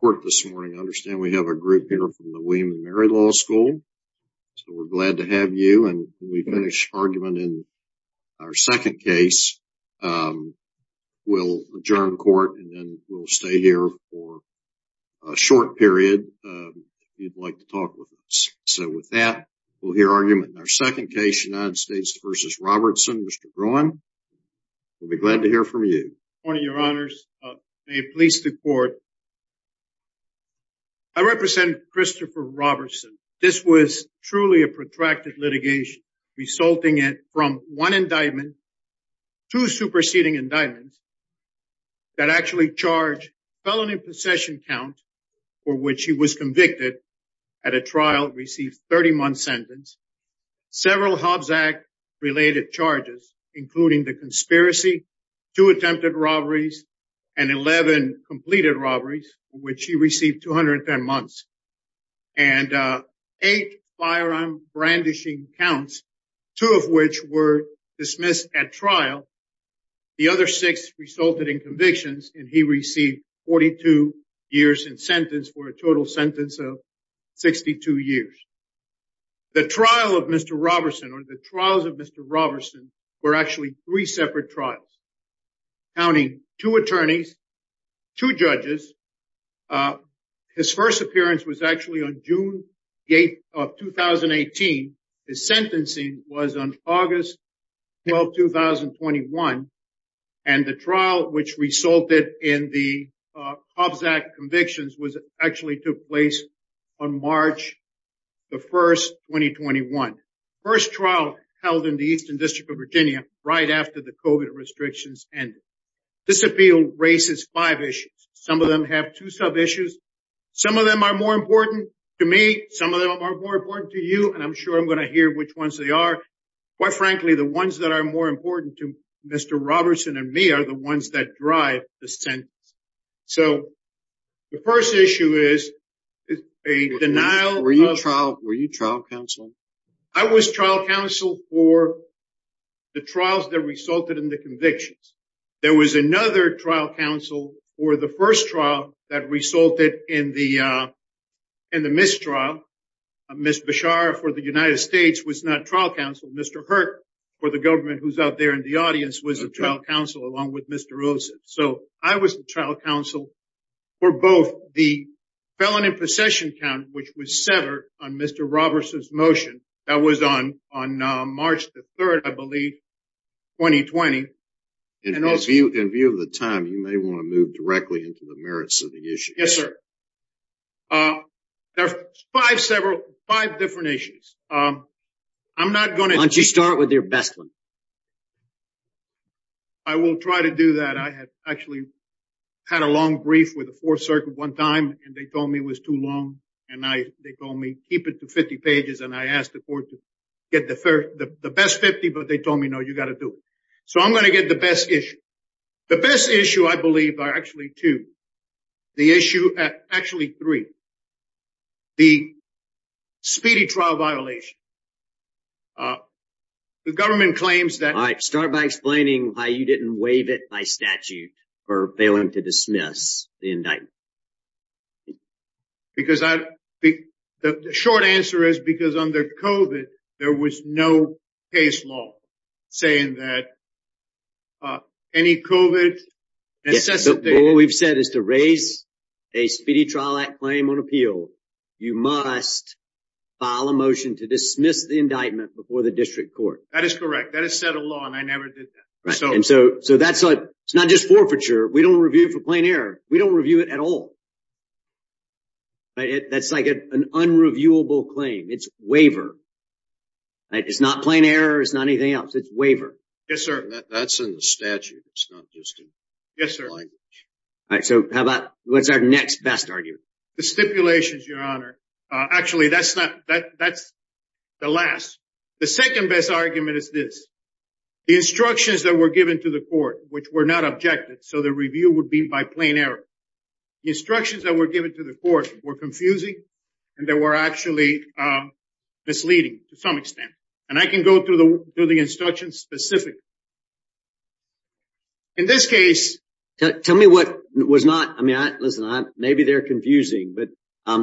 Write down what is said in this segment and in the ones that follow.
court this morning. I understand we have a group here from the William & Mary Law School, so we're glad to have you. And when we finish argument in our second case, we'll adjourn court and then we'll stay here for a short period if you'd like to talk with us. So with that, we'll hear argument in our second case, United States v. Robertson. Mr. Groen, we'll be glad to hear from you. Your Honor, may it please the court. I represent Christopher Robertson. This was truly a protracted litigation resulting from one indictment, two superseding indictments that actually charged felony possession count for which he was convicted at a trial, received 30 months sentence, several Hobbs Act related charges, including the conspiracy, two attempted robberies, and 11 completed robberies, which he received 210 months, and eight firearm brandishing counts, two of which were dismissed at trial. The other six resulted in convictions and he received 42 years in sentence for a total sentence of 62 years. The trial of Mr. Robertson, or the trials of Mr. Robertson, were actually three separate trials, counting two attorneys, two judges. His first appearance was actually on June 8th of 2018. His sentencing was on August 12th, 2021. And the trial which resulted in the Hobbs Act convictions was actually took place on March the 1st, 2021. First trial held in the Eastern District of Virginia, right after the COVID restrictions ended. This appeal raises five issues. Some of them have two sub-issues. Some of them are more important to me. Some of them are more important to you. And I'm sure I'm not the only one. Quite frankly, the ones that are more important to Mr. Robertson and me are the ones that drive the sentence. So the first issue is a denial- Were you trial counsel? I was trial counsel for the trials that resulted in the convictions. There was another trial counsel for the first trial that resulted in the mistrial. Ms. Beshar for the United States was not trial counsel. Mr. Hurt for the government who's out there in the audience was a trial counsel along with Mr. Wilson. So I was the trial counsel for both the felon in possession count, which was centered on Mr. Robertson's motion. That was on March the 3rd, I believe, 2020. In view of the time, you may want to move directly into the merits of the issue. Yes, sir. There are five different issues. I'm not going to- Why don't you start with your best one? I will try to do that. I had actually had a long brief with the Fourth Circuit one time, and they told me it was too long. And they told me, keep it to 50 pages. And I asked the court to get the best 50, but they told me, no, you got to do it. So I'm going to get the best issue. The best issue, I believe, are actually two. The issue, actually three, the speedy trial violation. The government claims that- All right. Start by explaining why you didn't waive it by statute for failing to dismiss the indictment. Because the short answer is because under COVID, there was no case law saying that COVID-19- What we've said is to raise a Speedy Trial Act claim on appeal, you must file a motion to dismiss the indictment before the district court. That is correct. That is set a law, and I never did that. So that's not just forfeiture. We don't review it for plain error. We don't review it at all. That's like an unreviewable claim. It's waiver. It's not plain error. It's not anything else. It's waiver. That's in the statute. It's not just a language. All right. So what's our next best argument? The stipulations, Your Honor. Actually, that's the last. The second best argument is this. The instructions that were given to the court, which were not objected, so the review would be by plain error. The instructions that were given to the court were confusing and they were actually misleading to some extent. And I can go through the instructions specifically. In this case... Tell me what was not... I mean, listen, maybe they're confusing, but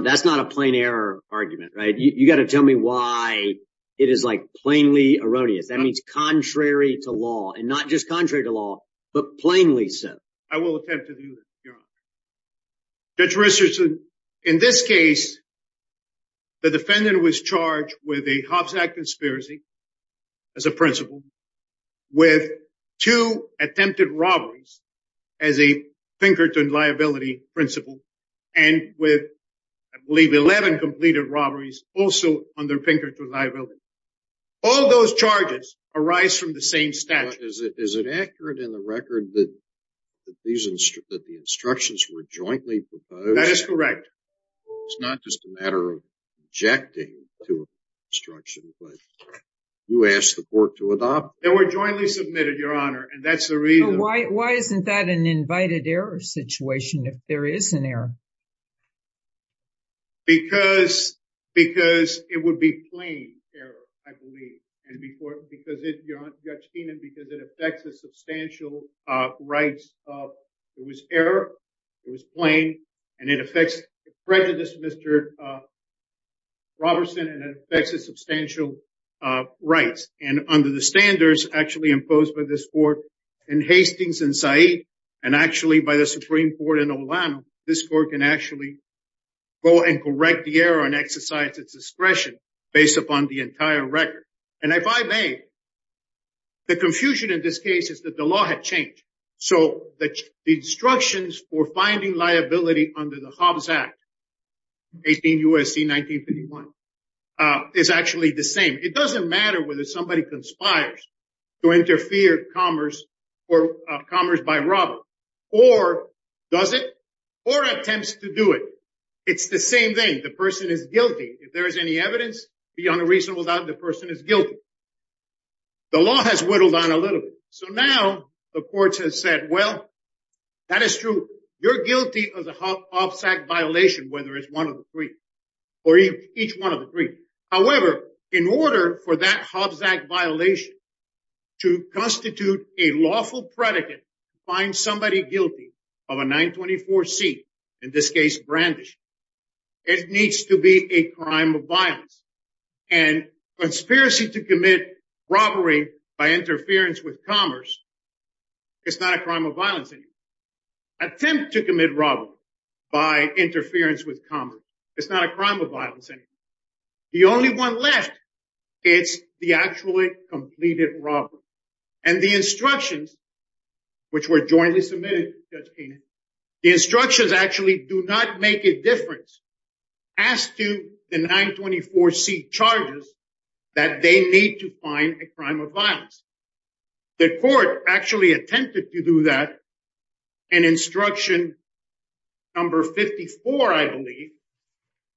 that's not a plain error argument, right? You got to tell me why it is like plainly erroneous. That means contrary to law and not just contrary to law, but plainly so. I will attempt to do that, Your Honor. Judge Richardson, in this case, the defendant was charged with a Hobbs Act conspiracy as a principle with two attempted robberies as a Pinkerton liability principle and with, I believe, 11 completed robberies also under Pinkerton liability. All those charges arise from the same statute. Is it accurate in the record that the instructions were jointly proposed? That is correct. It's not just a matter of objecting to instructions, but you asked the court to adopt? They were jointly submitted, Your Honor, and that's the reason... Why isn't that an invited error situation if there is an error? Because it would be plain error, I believe. And because, Your Honor, Judge Keenan, it affects the substantial rights of... It was error, it was plain, and it affects prejudice, Mr. Robertson, and it affects the substantial rights. And under the standards actually imposed by this court in Hastings and Said, and actually by the Supreme Court in Orlando, this court can actually go and correct the error and exercise its discretion based upon the entire record. And if I may, the confusion in this case is that the law had changed. So the instructions for finding liability under the Hobbs Act, 18 U.S.C. 1951, is actually the same. It doesn't matter whether somebody conspires to interfere commerce by robber, or does it, or attempts to do it. It's the same thing. The person is guilty. If there is any evidence beyond a reasonable doubt, the person is guilty. The law has whittled down a little bit. So now the courts have said, well, that is true. You're guilty of the Hobbs Act violation, whether it's one of the three, or each one of the three. However, in order for that Hobbs Act violation, it needs to be a crime of violence. And conspiracy to commit robbery by interference with commerce, it's not a crime of violence anymore. Attempt to commit robbery by interference with commerce, it's not a crime of violence anymore. The only one left, it's the actually completed robbery. And the instructions, which were jointly submitted to Judge Keenan, the instructions actually do not make a difference as to the 924C charges that they need to find a crime of violence. The court actually attempted to do that. And instruction number 54, I believe,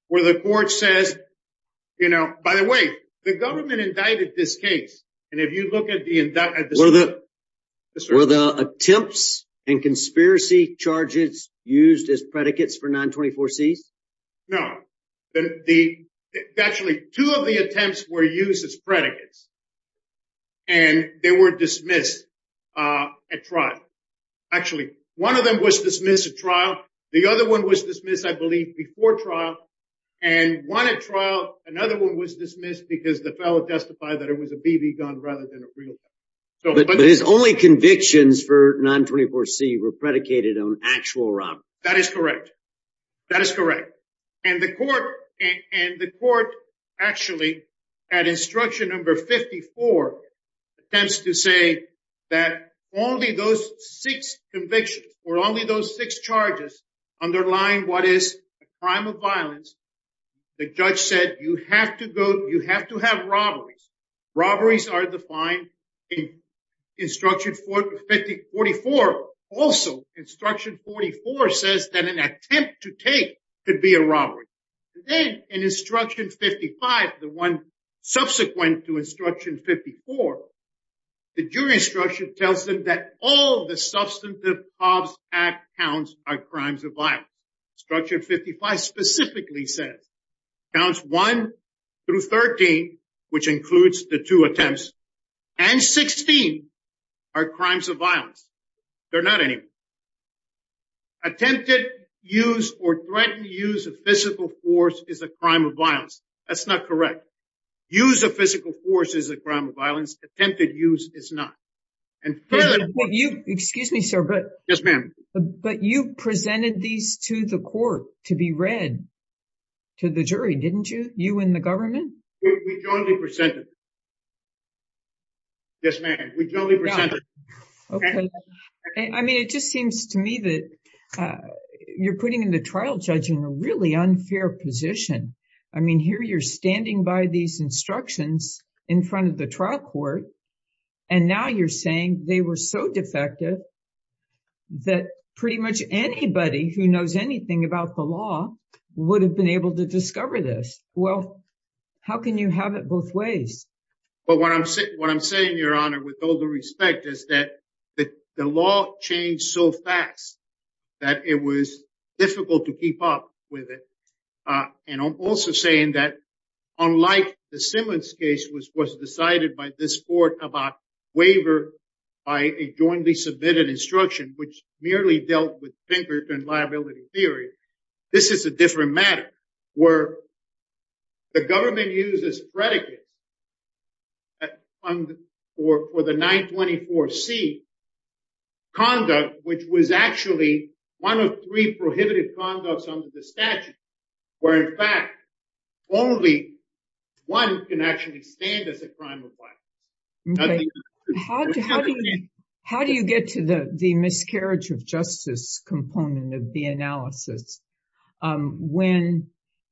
where the court says, you know, by the way, the government indicted this case. And if you look at the indictment, were the attempts and conspiracy charges used as predicates for 924Cs? No. Actually, two of the attempts were used as predicates. And they were dismissed at trial. Actually, one of them was dismissed at trial. The other one was dismissed, I believe, before trial. And one at trial, another one was dismissed because the fellow testified that it was a But his only convictions for 924C were predicated on actual robbery. That is correct. That is correct. And the court actually, at instruction number 54, attempts to say that only those six convictions or only those six charges underline what is a crime of violence. The judge said, you have to go, you have to have robberies. Robberies are defined in instruction 44. Also, instruction 44 says that an attempt to take could be a robbery. Then in instruction 55, the one subsequent to instruction 54, the jury instruction tells them that all the substantive Hobbs Act counts are crimes of violence. Counts 1 through 13, which includes the two attempts, and 16 are crimes of violence. They're not any. Attempted use or threatened use of physical force is a crime of violence. That's not correct. Use of physical force is a crime of violence. Attempted use is not. And you, excuse me, sir, but yes, ma'am. But you presented these to the court to be read to the jury, didn't you? You and the government? We jointly presented. Yes, ma'am. We totally presented. Okay. I mean, it just seems to me that you're putting in the trial judge in a really unfair position. I mean, here you're standing by these instructions in front of the trial court, and now you're saying they were so defective that pretty much anybody who knows anything about the law would have been able to discover this. Well, how can you have it both ways? Well, what I'm saying, your honor, with all the respect is that the law changed so fast that it was difficult to keep up with it. And I'm also saying that unlike the Simmons case, which was decided by this court about waiver by a jointly submitted instruction, which merely dealt with Pinkerton liability theory, this is a different matter where the government uses predicate for the 924C conduct, which was actually one of three prohibited conducts under the statute, where in fact only one can actually stand as a crime of life. How do you get to the miscarriage of justice component of the analysis when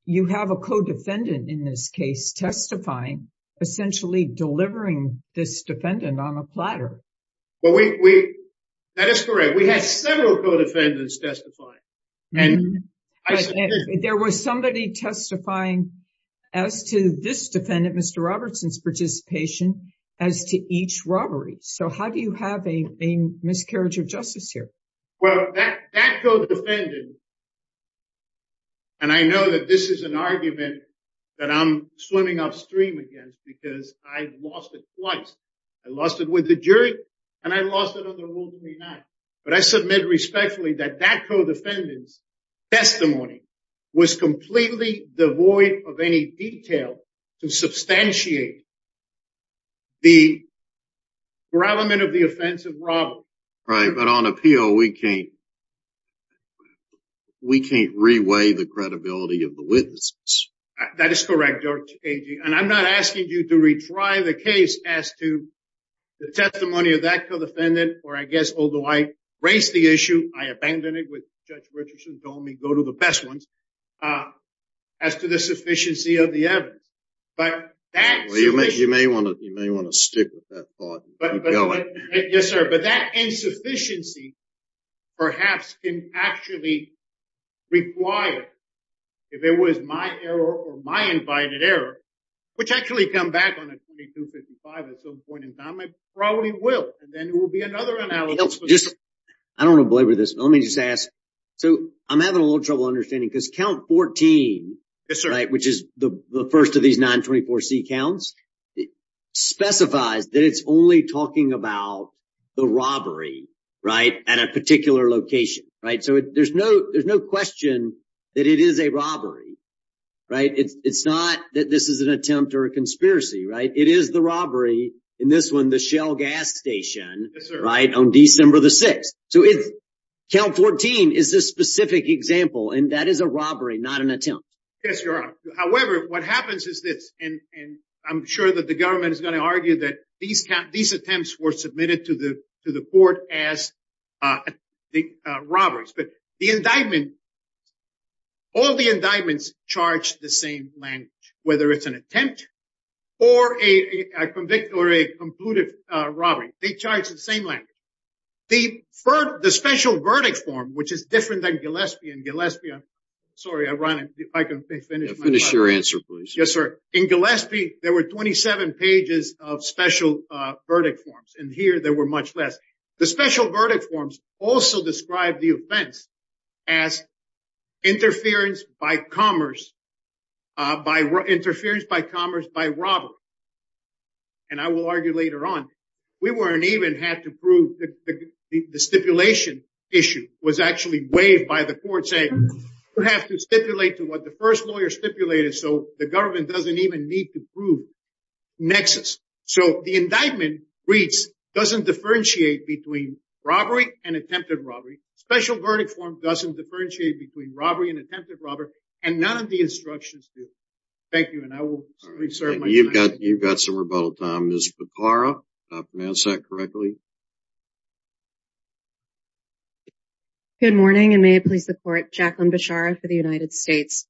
you have a co-defendant in this case testifying, essentially delivering this That is correct. We had several co-defendants testifying. There was somebody testifying as to this defendant, Mr. Robertson's participation, as to each robbery. So how do you have a miscarriage of justice here? Well, that co-defendant, and I know that this is an argument that I'm swimming upstream against because I've lost it twice. I lost it with the jury and I lost it on the Rule 39. But I submit respectfully that that co-defendant's testimony was completely devoid of any detail to substantiate the parallelment of the offense of robbery. Right. But on appeal, we can't reweigh the credibility of the witnesses. That is correct, Judge Agee. And I'm not asking you to retry the case as to the testimony of that co-defendant, or I guess, although I raised the issue, I abandoned it with Judge Richardson told me go to the best ones, as to the sufficiency of the evidence. You may want to stick with that thought. Yes, sir. But that insufficiency perhaps can actually require, if it was my error or my error, which actually come back on a 2255 at some point in time, I probably will. And then it will be another analysis. I don't want to belabor this, but let me just ask. So I'm having a little trouble understanding because count 14, which is the first of these 924C counts, specifies that it's only talking about the robbery at a particular location. So there's no question that it is a robbery, right? It's not that this is an attempt or a conspiracy, right? It is the robbery in this one, the Shell gas station, right? On December the 6th. So count 14 is this specific example, and that is a robbery, not an attempt. Yes, Your Honor. However, what happens is this, and I'm sure that the government is going to argue that these attempts were submitted to the court as the robberies. But the indictment, all the indictments charge the same language, whether it's an attempt or a convict or a concluded robbery, they charge the same language. The special verdict form, which is different than Gillespie and Gillespie, I'm sorry, I run if I can finish. Finish your answer, please. Yes, sir. In Gillespie, there were 27 pages of verdict forms, and here there were much less. The special verdict forms also describe the offense as interference by commerce, interference by commerce by robbery. And I will argue later on, we weren't even had to prove the stipulation issue was actually waived by the court saying, you have to stipulate to what the first lawyer stipulated. So the government doesn't even need to prove nexus. So the indictment reads doesn't differentiate between robbery and attempted robbery. Special verdict form doesn't differentiate between robbery and attempted robbery, and none of the instructions do. Thank you, and I will reserve my time. You've got some rebuttal time. Ms. Beppara, did I pronounce that correctly? Good morning, and may it please the court, Jacqueline Bechara for the United States.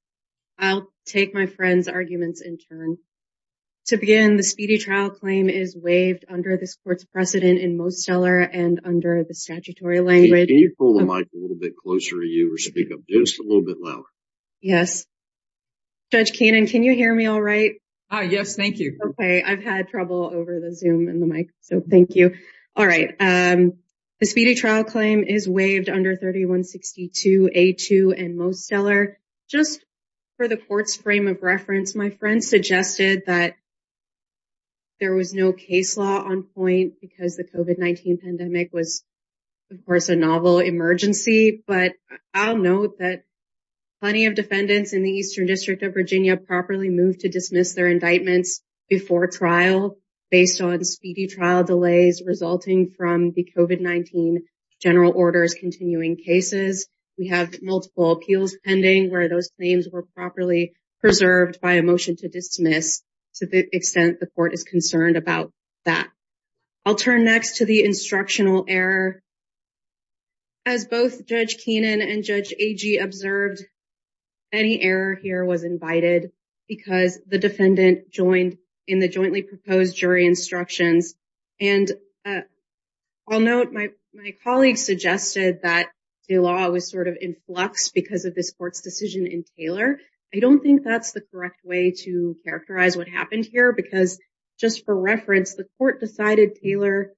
I'll take my friend's arguments in turn. To begin, the speedy trial claim is waived under this court's precedent in Mostellar and under the statutory language. Can you pull the mic a little bit closer to you or speak up just a little bit louder? Yes. Judge Kanan, can you hear me all right? Yes, thank you. Okay, I've had trouble over the Zoom and the mic, so thank you. All right. The speedy trial claim is waived under 3162 A2 and Mostellar. Just for the court's frame of reference, my friend suggested that there was no case law on point because the COVID-19 pandemic was, of course, a novel emergency. But I'll note that plenty of defendants in the Eastern District of Virginia properly moved to dismiss their indictments before trial based on speedy trial delays resulting from the COVID-19 general orders continuing cases. We have multiple appeals pending where those claims were properly preserved by a motion to dismiss to the extent the court is concerned about that. I'll turn next to the instructional error. As both Judge Kanan and Judge Agee observed, any error here was invited because the defendant joined in the jointly proposed jury instructions. And I'll note my colleague suggested that the law was sort of in flux because of this court's decision in Taylor. I don't think that's the correct way to characterize what happened here because, just for reference, the court decided Taylor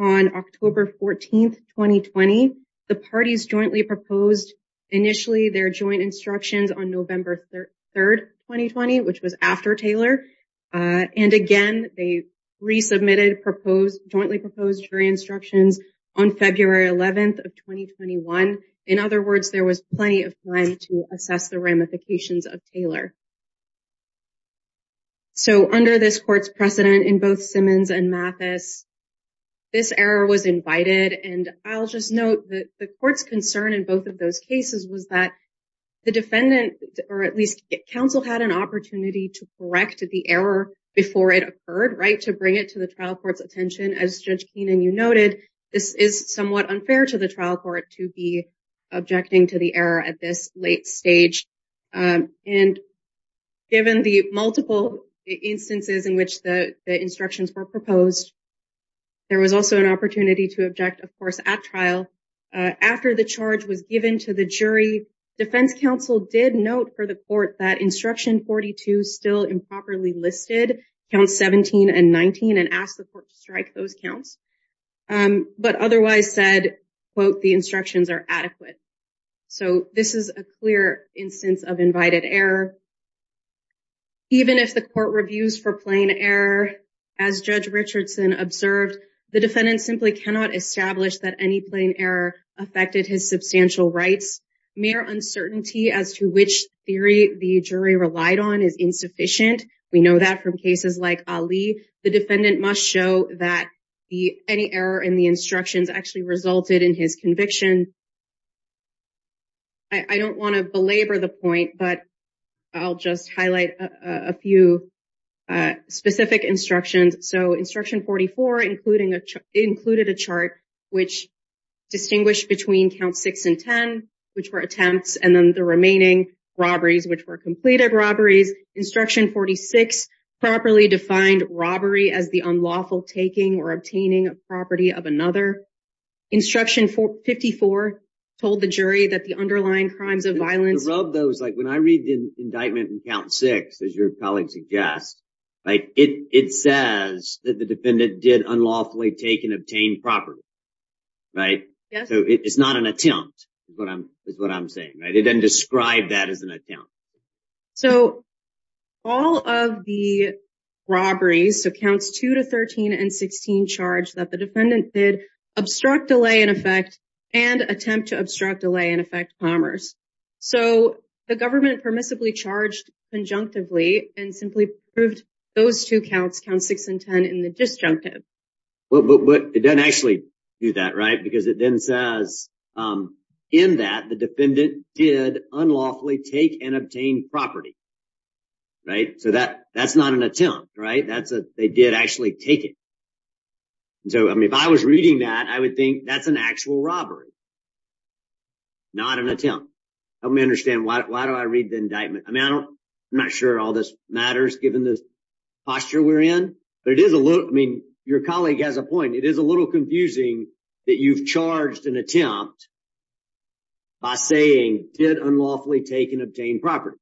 on October 14, 2020. The parties jointly proposed initially their joint instructions on November 3, 2020, which was after Taylor. And again, they resubmitted jointly proposed jury instructions on February 11, 2021. In other words, there was plenty of time to assess the ramifications of Taylor. So under this court's precedent in both Simmons and Mathis, this error was invited. And I'll just note that the court's concern in both of those cases was that the defendant, or at least counsel, had an opportunity to correct the error before it occurred, right, to bring it to the trial court's attention. As Judge Kanan, you noted, this is somewhat unfair to the trial court to be objecting to the error at this late stage. And given the multiple instances in which the instructions were proposed, there was also an opportunity to object, of course, at trial. After the charge was given to the jury, defense counsel did note for the court that instruction 42 still improperly listed counts 17 and 19 and asked the court to strike those counts, but otherwise said, quote, the instructions are adequate. So this is a clear instance of invited error. Even if the court reviews for plain error, as Judge Richardson observed, the defendant simply cannot establish that any plain error affected his substantial rights. Mere uncertainty as to which theory the jury relied on is insufficient. We know that from cases like Ali. The defendant must show that any error in the instructions actually resulted in his conviction. I don't want to belabor the point, but I'll just highlight a few specific instructions. So it included a chart which distinguished between count six and 10, which were attempts, and then the remaining robberies, which were completed robberies. Instruction 46 properly defined robbery as the unlawful taking or obtaining a property of another. Instruction 54 told the jury that the underlying crimes of violence. To rub those, like when I read the indictment in count six, as your colleagues have guessed, it says that the defendant did unlawfully take and obtain property, right? So it's not an attempt, is what I'm saying, right? It doesn't describe that as an attempt. So all of the robberies, so counts two to 13 and 16, charge that the defendant did obstruct, delay, and affect, and attempt to obstruct, delay, and affect commerce. So the government permissibly charged conjunctively and simply proved those two counts, count six and 10, in the disjunctive. But it doesn't actually do that, right? Because it then says in that the defendant did unlawfully take and obtain property, right? So that's not an attempt, right? They did actually take it. So I mean, if I was reading that, I would think that's an actual robbery, not an attempt. Help me understand, why do I read the indictment? I mean, I don't, I'm not sure all this matters given the posture we're in, but it is a little, I mean, your colleague has a point. It is a little confusing that you've charged an attempt by saying, did unlawfully take and obtain property.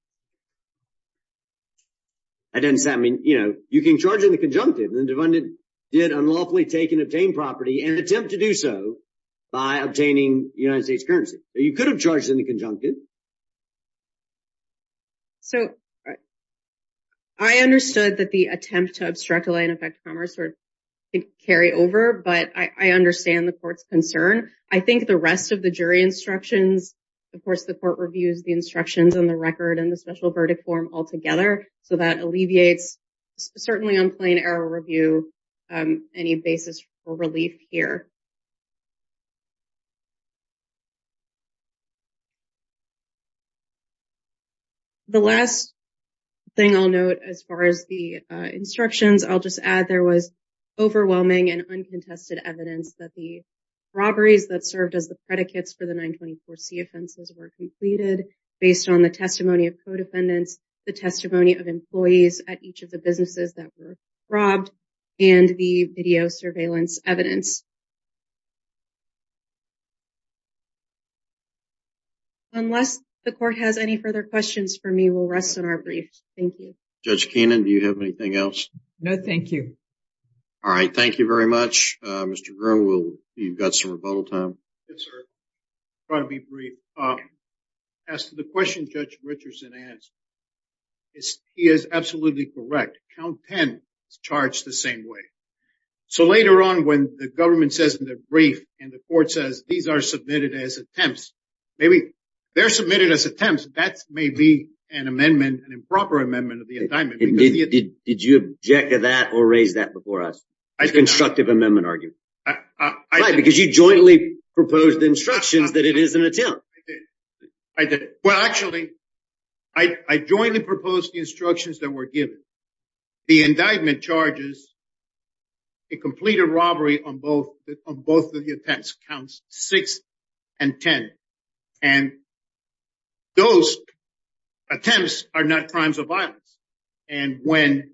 I didn't say, I mean, you know, you can charge in the conjunctive, the defendant did unlawfully take and obtain property and attempt to do so by obtaining United States currency. You could have charged in the conjunctive. So I understood that the attempt to obstruct, delay, and affect commerce sort of carry over, but I understand the court's concern. I think the rest of the jury instructions, of course, the court reviews the instructions on the record and the special verdict form altogether. So that alleviates, certainly on plain error review, any basis for relief here. The last thing I'll note, as far as the instructions, I'll just add there was overwhelming and uncontested evidence that the robberies that served as the predicates for the offenses were completed based on the testimony of co-defendants, the testimony of employees at each of the businesses that were robbed, and the video surveillance evidence. Unless the court has any further questions for me, we'll rest on our briefs. Thank you. Judge Keenan, do you have anything else? No, thank you. All right, thank you very much. Mr. Groom, you've got some rebuttal time. I'll try to be brief. As to the question Judge Richardson asked, he is absolutely correct. Count 10 is charged the same way. So later on, when the government says in their brief, and the court says these are submitted as attempts, maybe they're submitted as attempts, that may be an amendment, an improper amendment of the indictment. Did you object to that or raise that before us? It's a constructive amendment argument. Right, because you jointly proposed the instructions that it is an attempt. I did. Well, actually, I jointly proposed the instructions that were given. The indictment charges a completed robbery on both of the attempts, counts 6 and 10. And those attempts are not crimes of violence. And when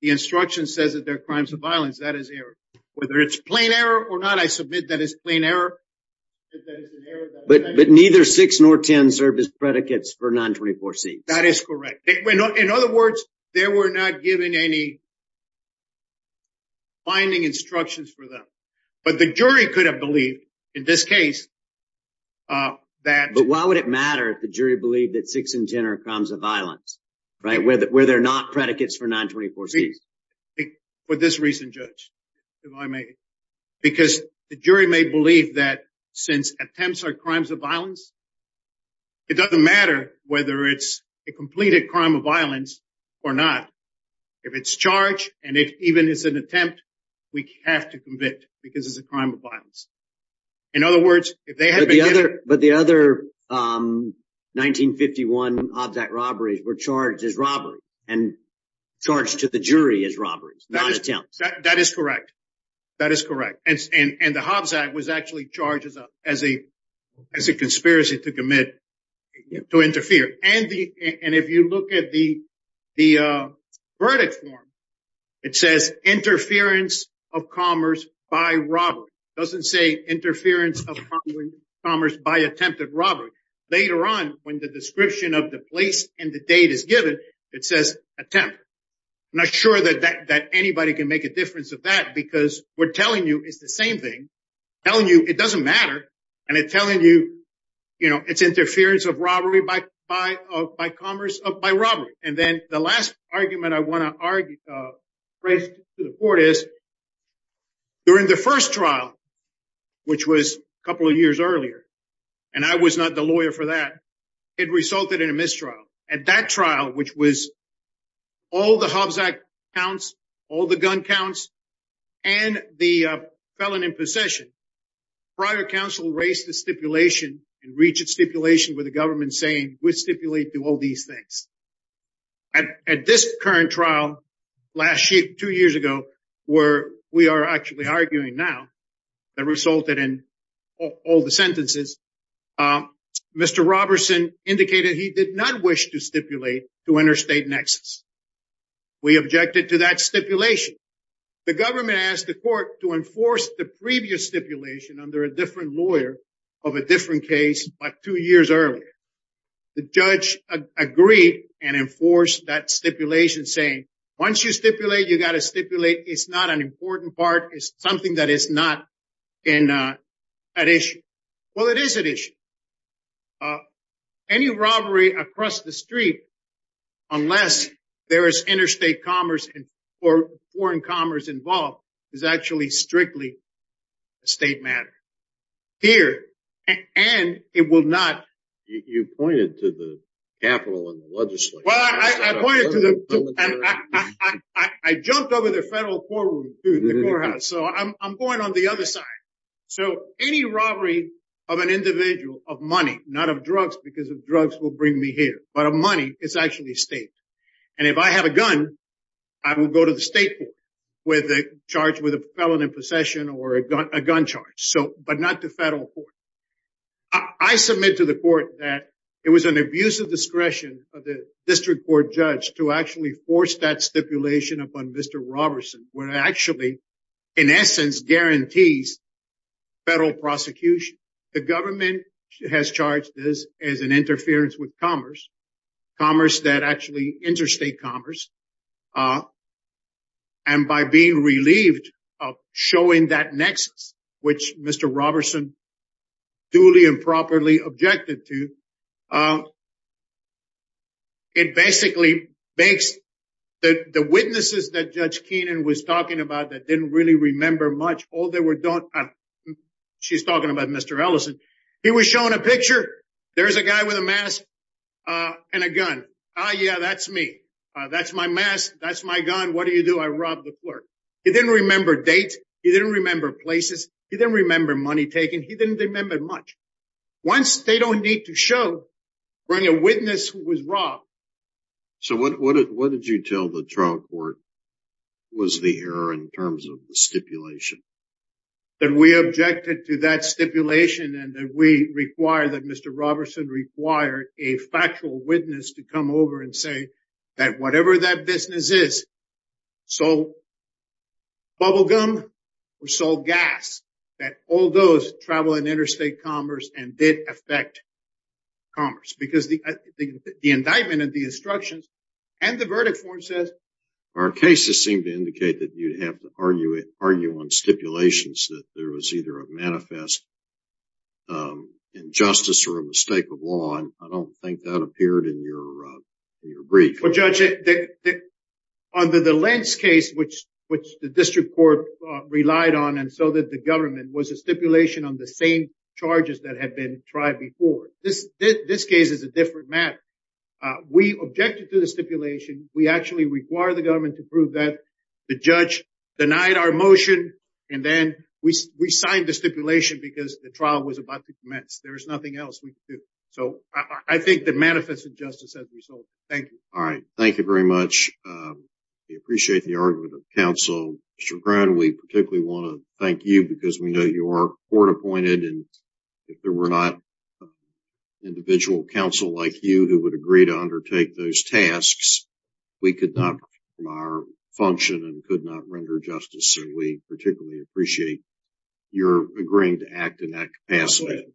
the instruction says that they're crimes of violence, that is error. Whether it's plain error or not, I submit that it's plain error. But neither 6 nor 10 serve as predicates for 924C. That is correct. In other words, they were not given any binding instructions for them. But the jury could have believed, in this case, that... But why would it matter if the jury believed that 6 and 10 are crimes of violence, right, where they're not predicates for 924C? For this reason, Judge, if I may, because the jury may believe that since attempts are crimes of violence, it doesn't matter whether it's a completed crime of violence or not. If it's charged and if even it's an attempt, we have to convict because it's a crime of violence. In other words, if they had been given... But the other 1951 Hobbs Act robberies were charged as robberies and charged to the jury as robberies, not attempts. That is correct. That is correct. And the Hobbs Act was actually charged as a conspiracy to commit, to interfere. And if you look at the verdict form, it says interference of commerce by robbery. It doesn't say interference of commerce by attempted robbery. Later on, when the description of the place and the date is given, it says attempt. I'm not sure that anybody can make a difference of that because we're telling you it's the same thing, telling you it doesn't matter. And it's telling you it's interference of robbery by commerce, by robbery. And then the last argument I want to raise to the court is during the first trial, which was a couple of years earlier, and I was not the lawyer for that, it resulted in a mistrial. At that trial, which was all the Hobbs Act counts, all the gun counts and the felon in possession, prior counsel raised the stipulation and reached a stipulation with the government saying, we stipulate to all these things. At this current trial, last year, two years ago, where we are actually arguing now, that resulted in all the sentences, Mr. Robertson indicated he did not wish to stipulate to interstate nexus. We objected to that stipulation. The government asked the court to enforce the previous stipulation under a different lawyer of a different case, but two years earlier, the judge agreed and enforced that stipulation saying, once you stipulate, you got to stipulate. It's not an important part. It's something that is not an issue. Well, it is an issue. Any robbery across the street, unless there is interstate commerce or foreign commerce involved, is actually strictly a state matter. Here, and it will not... You pointed to the capital and the legislature. Well, I pointed to the... I jumped over the federal courtroom to the courthouse, so I'm going on the other side. So any robbery of an individual of money, not of drugs, because of drugs will bring me here, but of money, it's actually state. And if I have a gun, I will go to the state court with a charge with a felon in possession or a gun charge, but not the federal court. I submit to the court that it was an abuse of discretion of the district court judge to actually force that stipulation upon Mr. Robertson, where it actually, in essence, guarantees federal prosecution. The government has charged this as an interference with commerce, commerce that actually interstate commerce. And by being relieved of showing that nexus, which Mr. Robertson duly and properly objected to, it basically makes the witnesses that Judge Keenan was talking about that didn't really remember much, all they were... She's talking about Mr. Ellison. He was showing a picture. There's a guy with a mask and a gun. Oh, yeah, that's me. That's my mask. That's my gun. What do you do? I rob the clerk. He didn't remember date. He didn't remember places. He didn't remember money taken. He didn't remember much. Once they don't need to show, bring a witness who was robbed. So what did you tell the trial court was the error in terms of the stipulation? That we objected to that stipulation and that we require that Mr. Robertson require a factual witness to come over and say that whatever that business is, sold bubble gum or sold gas, that all those travel in interstate commerce and did affect commerce. Because the indictment and the instructions and the verdict form says, our cases seem to indicate that you'd have to argue on stipulations that there was either a manifest injustice or a mistake of law. And I don't think that appeared in your brief. Well, Judge, under the Lentz case, which the district court relied on and so did the government, was a stipulation on the same charges that had been tried before. This case is a different matter. We objected to the stipulation. We actually require the government to prove that the judge denied our motion. And then we signed the stipulation because the trial was about to commence. There was nothing else we could do. So I think the manifest injustice as a result. Thank you. All right. Thank you very much. We appreciate the argument of counsel. Mr. Brown, we particularly want to thank you because we know you are court appointed and if there were not individual counsel like you who would agree to undertake those tasks, we could not perform our function and could not render justice. And we particularly appreciate your agreeing to act in that capacity.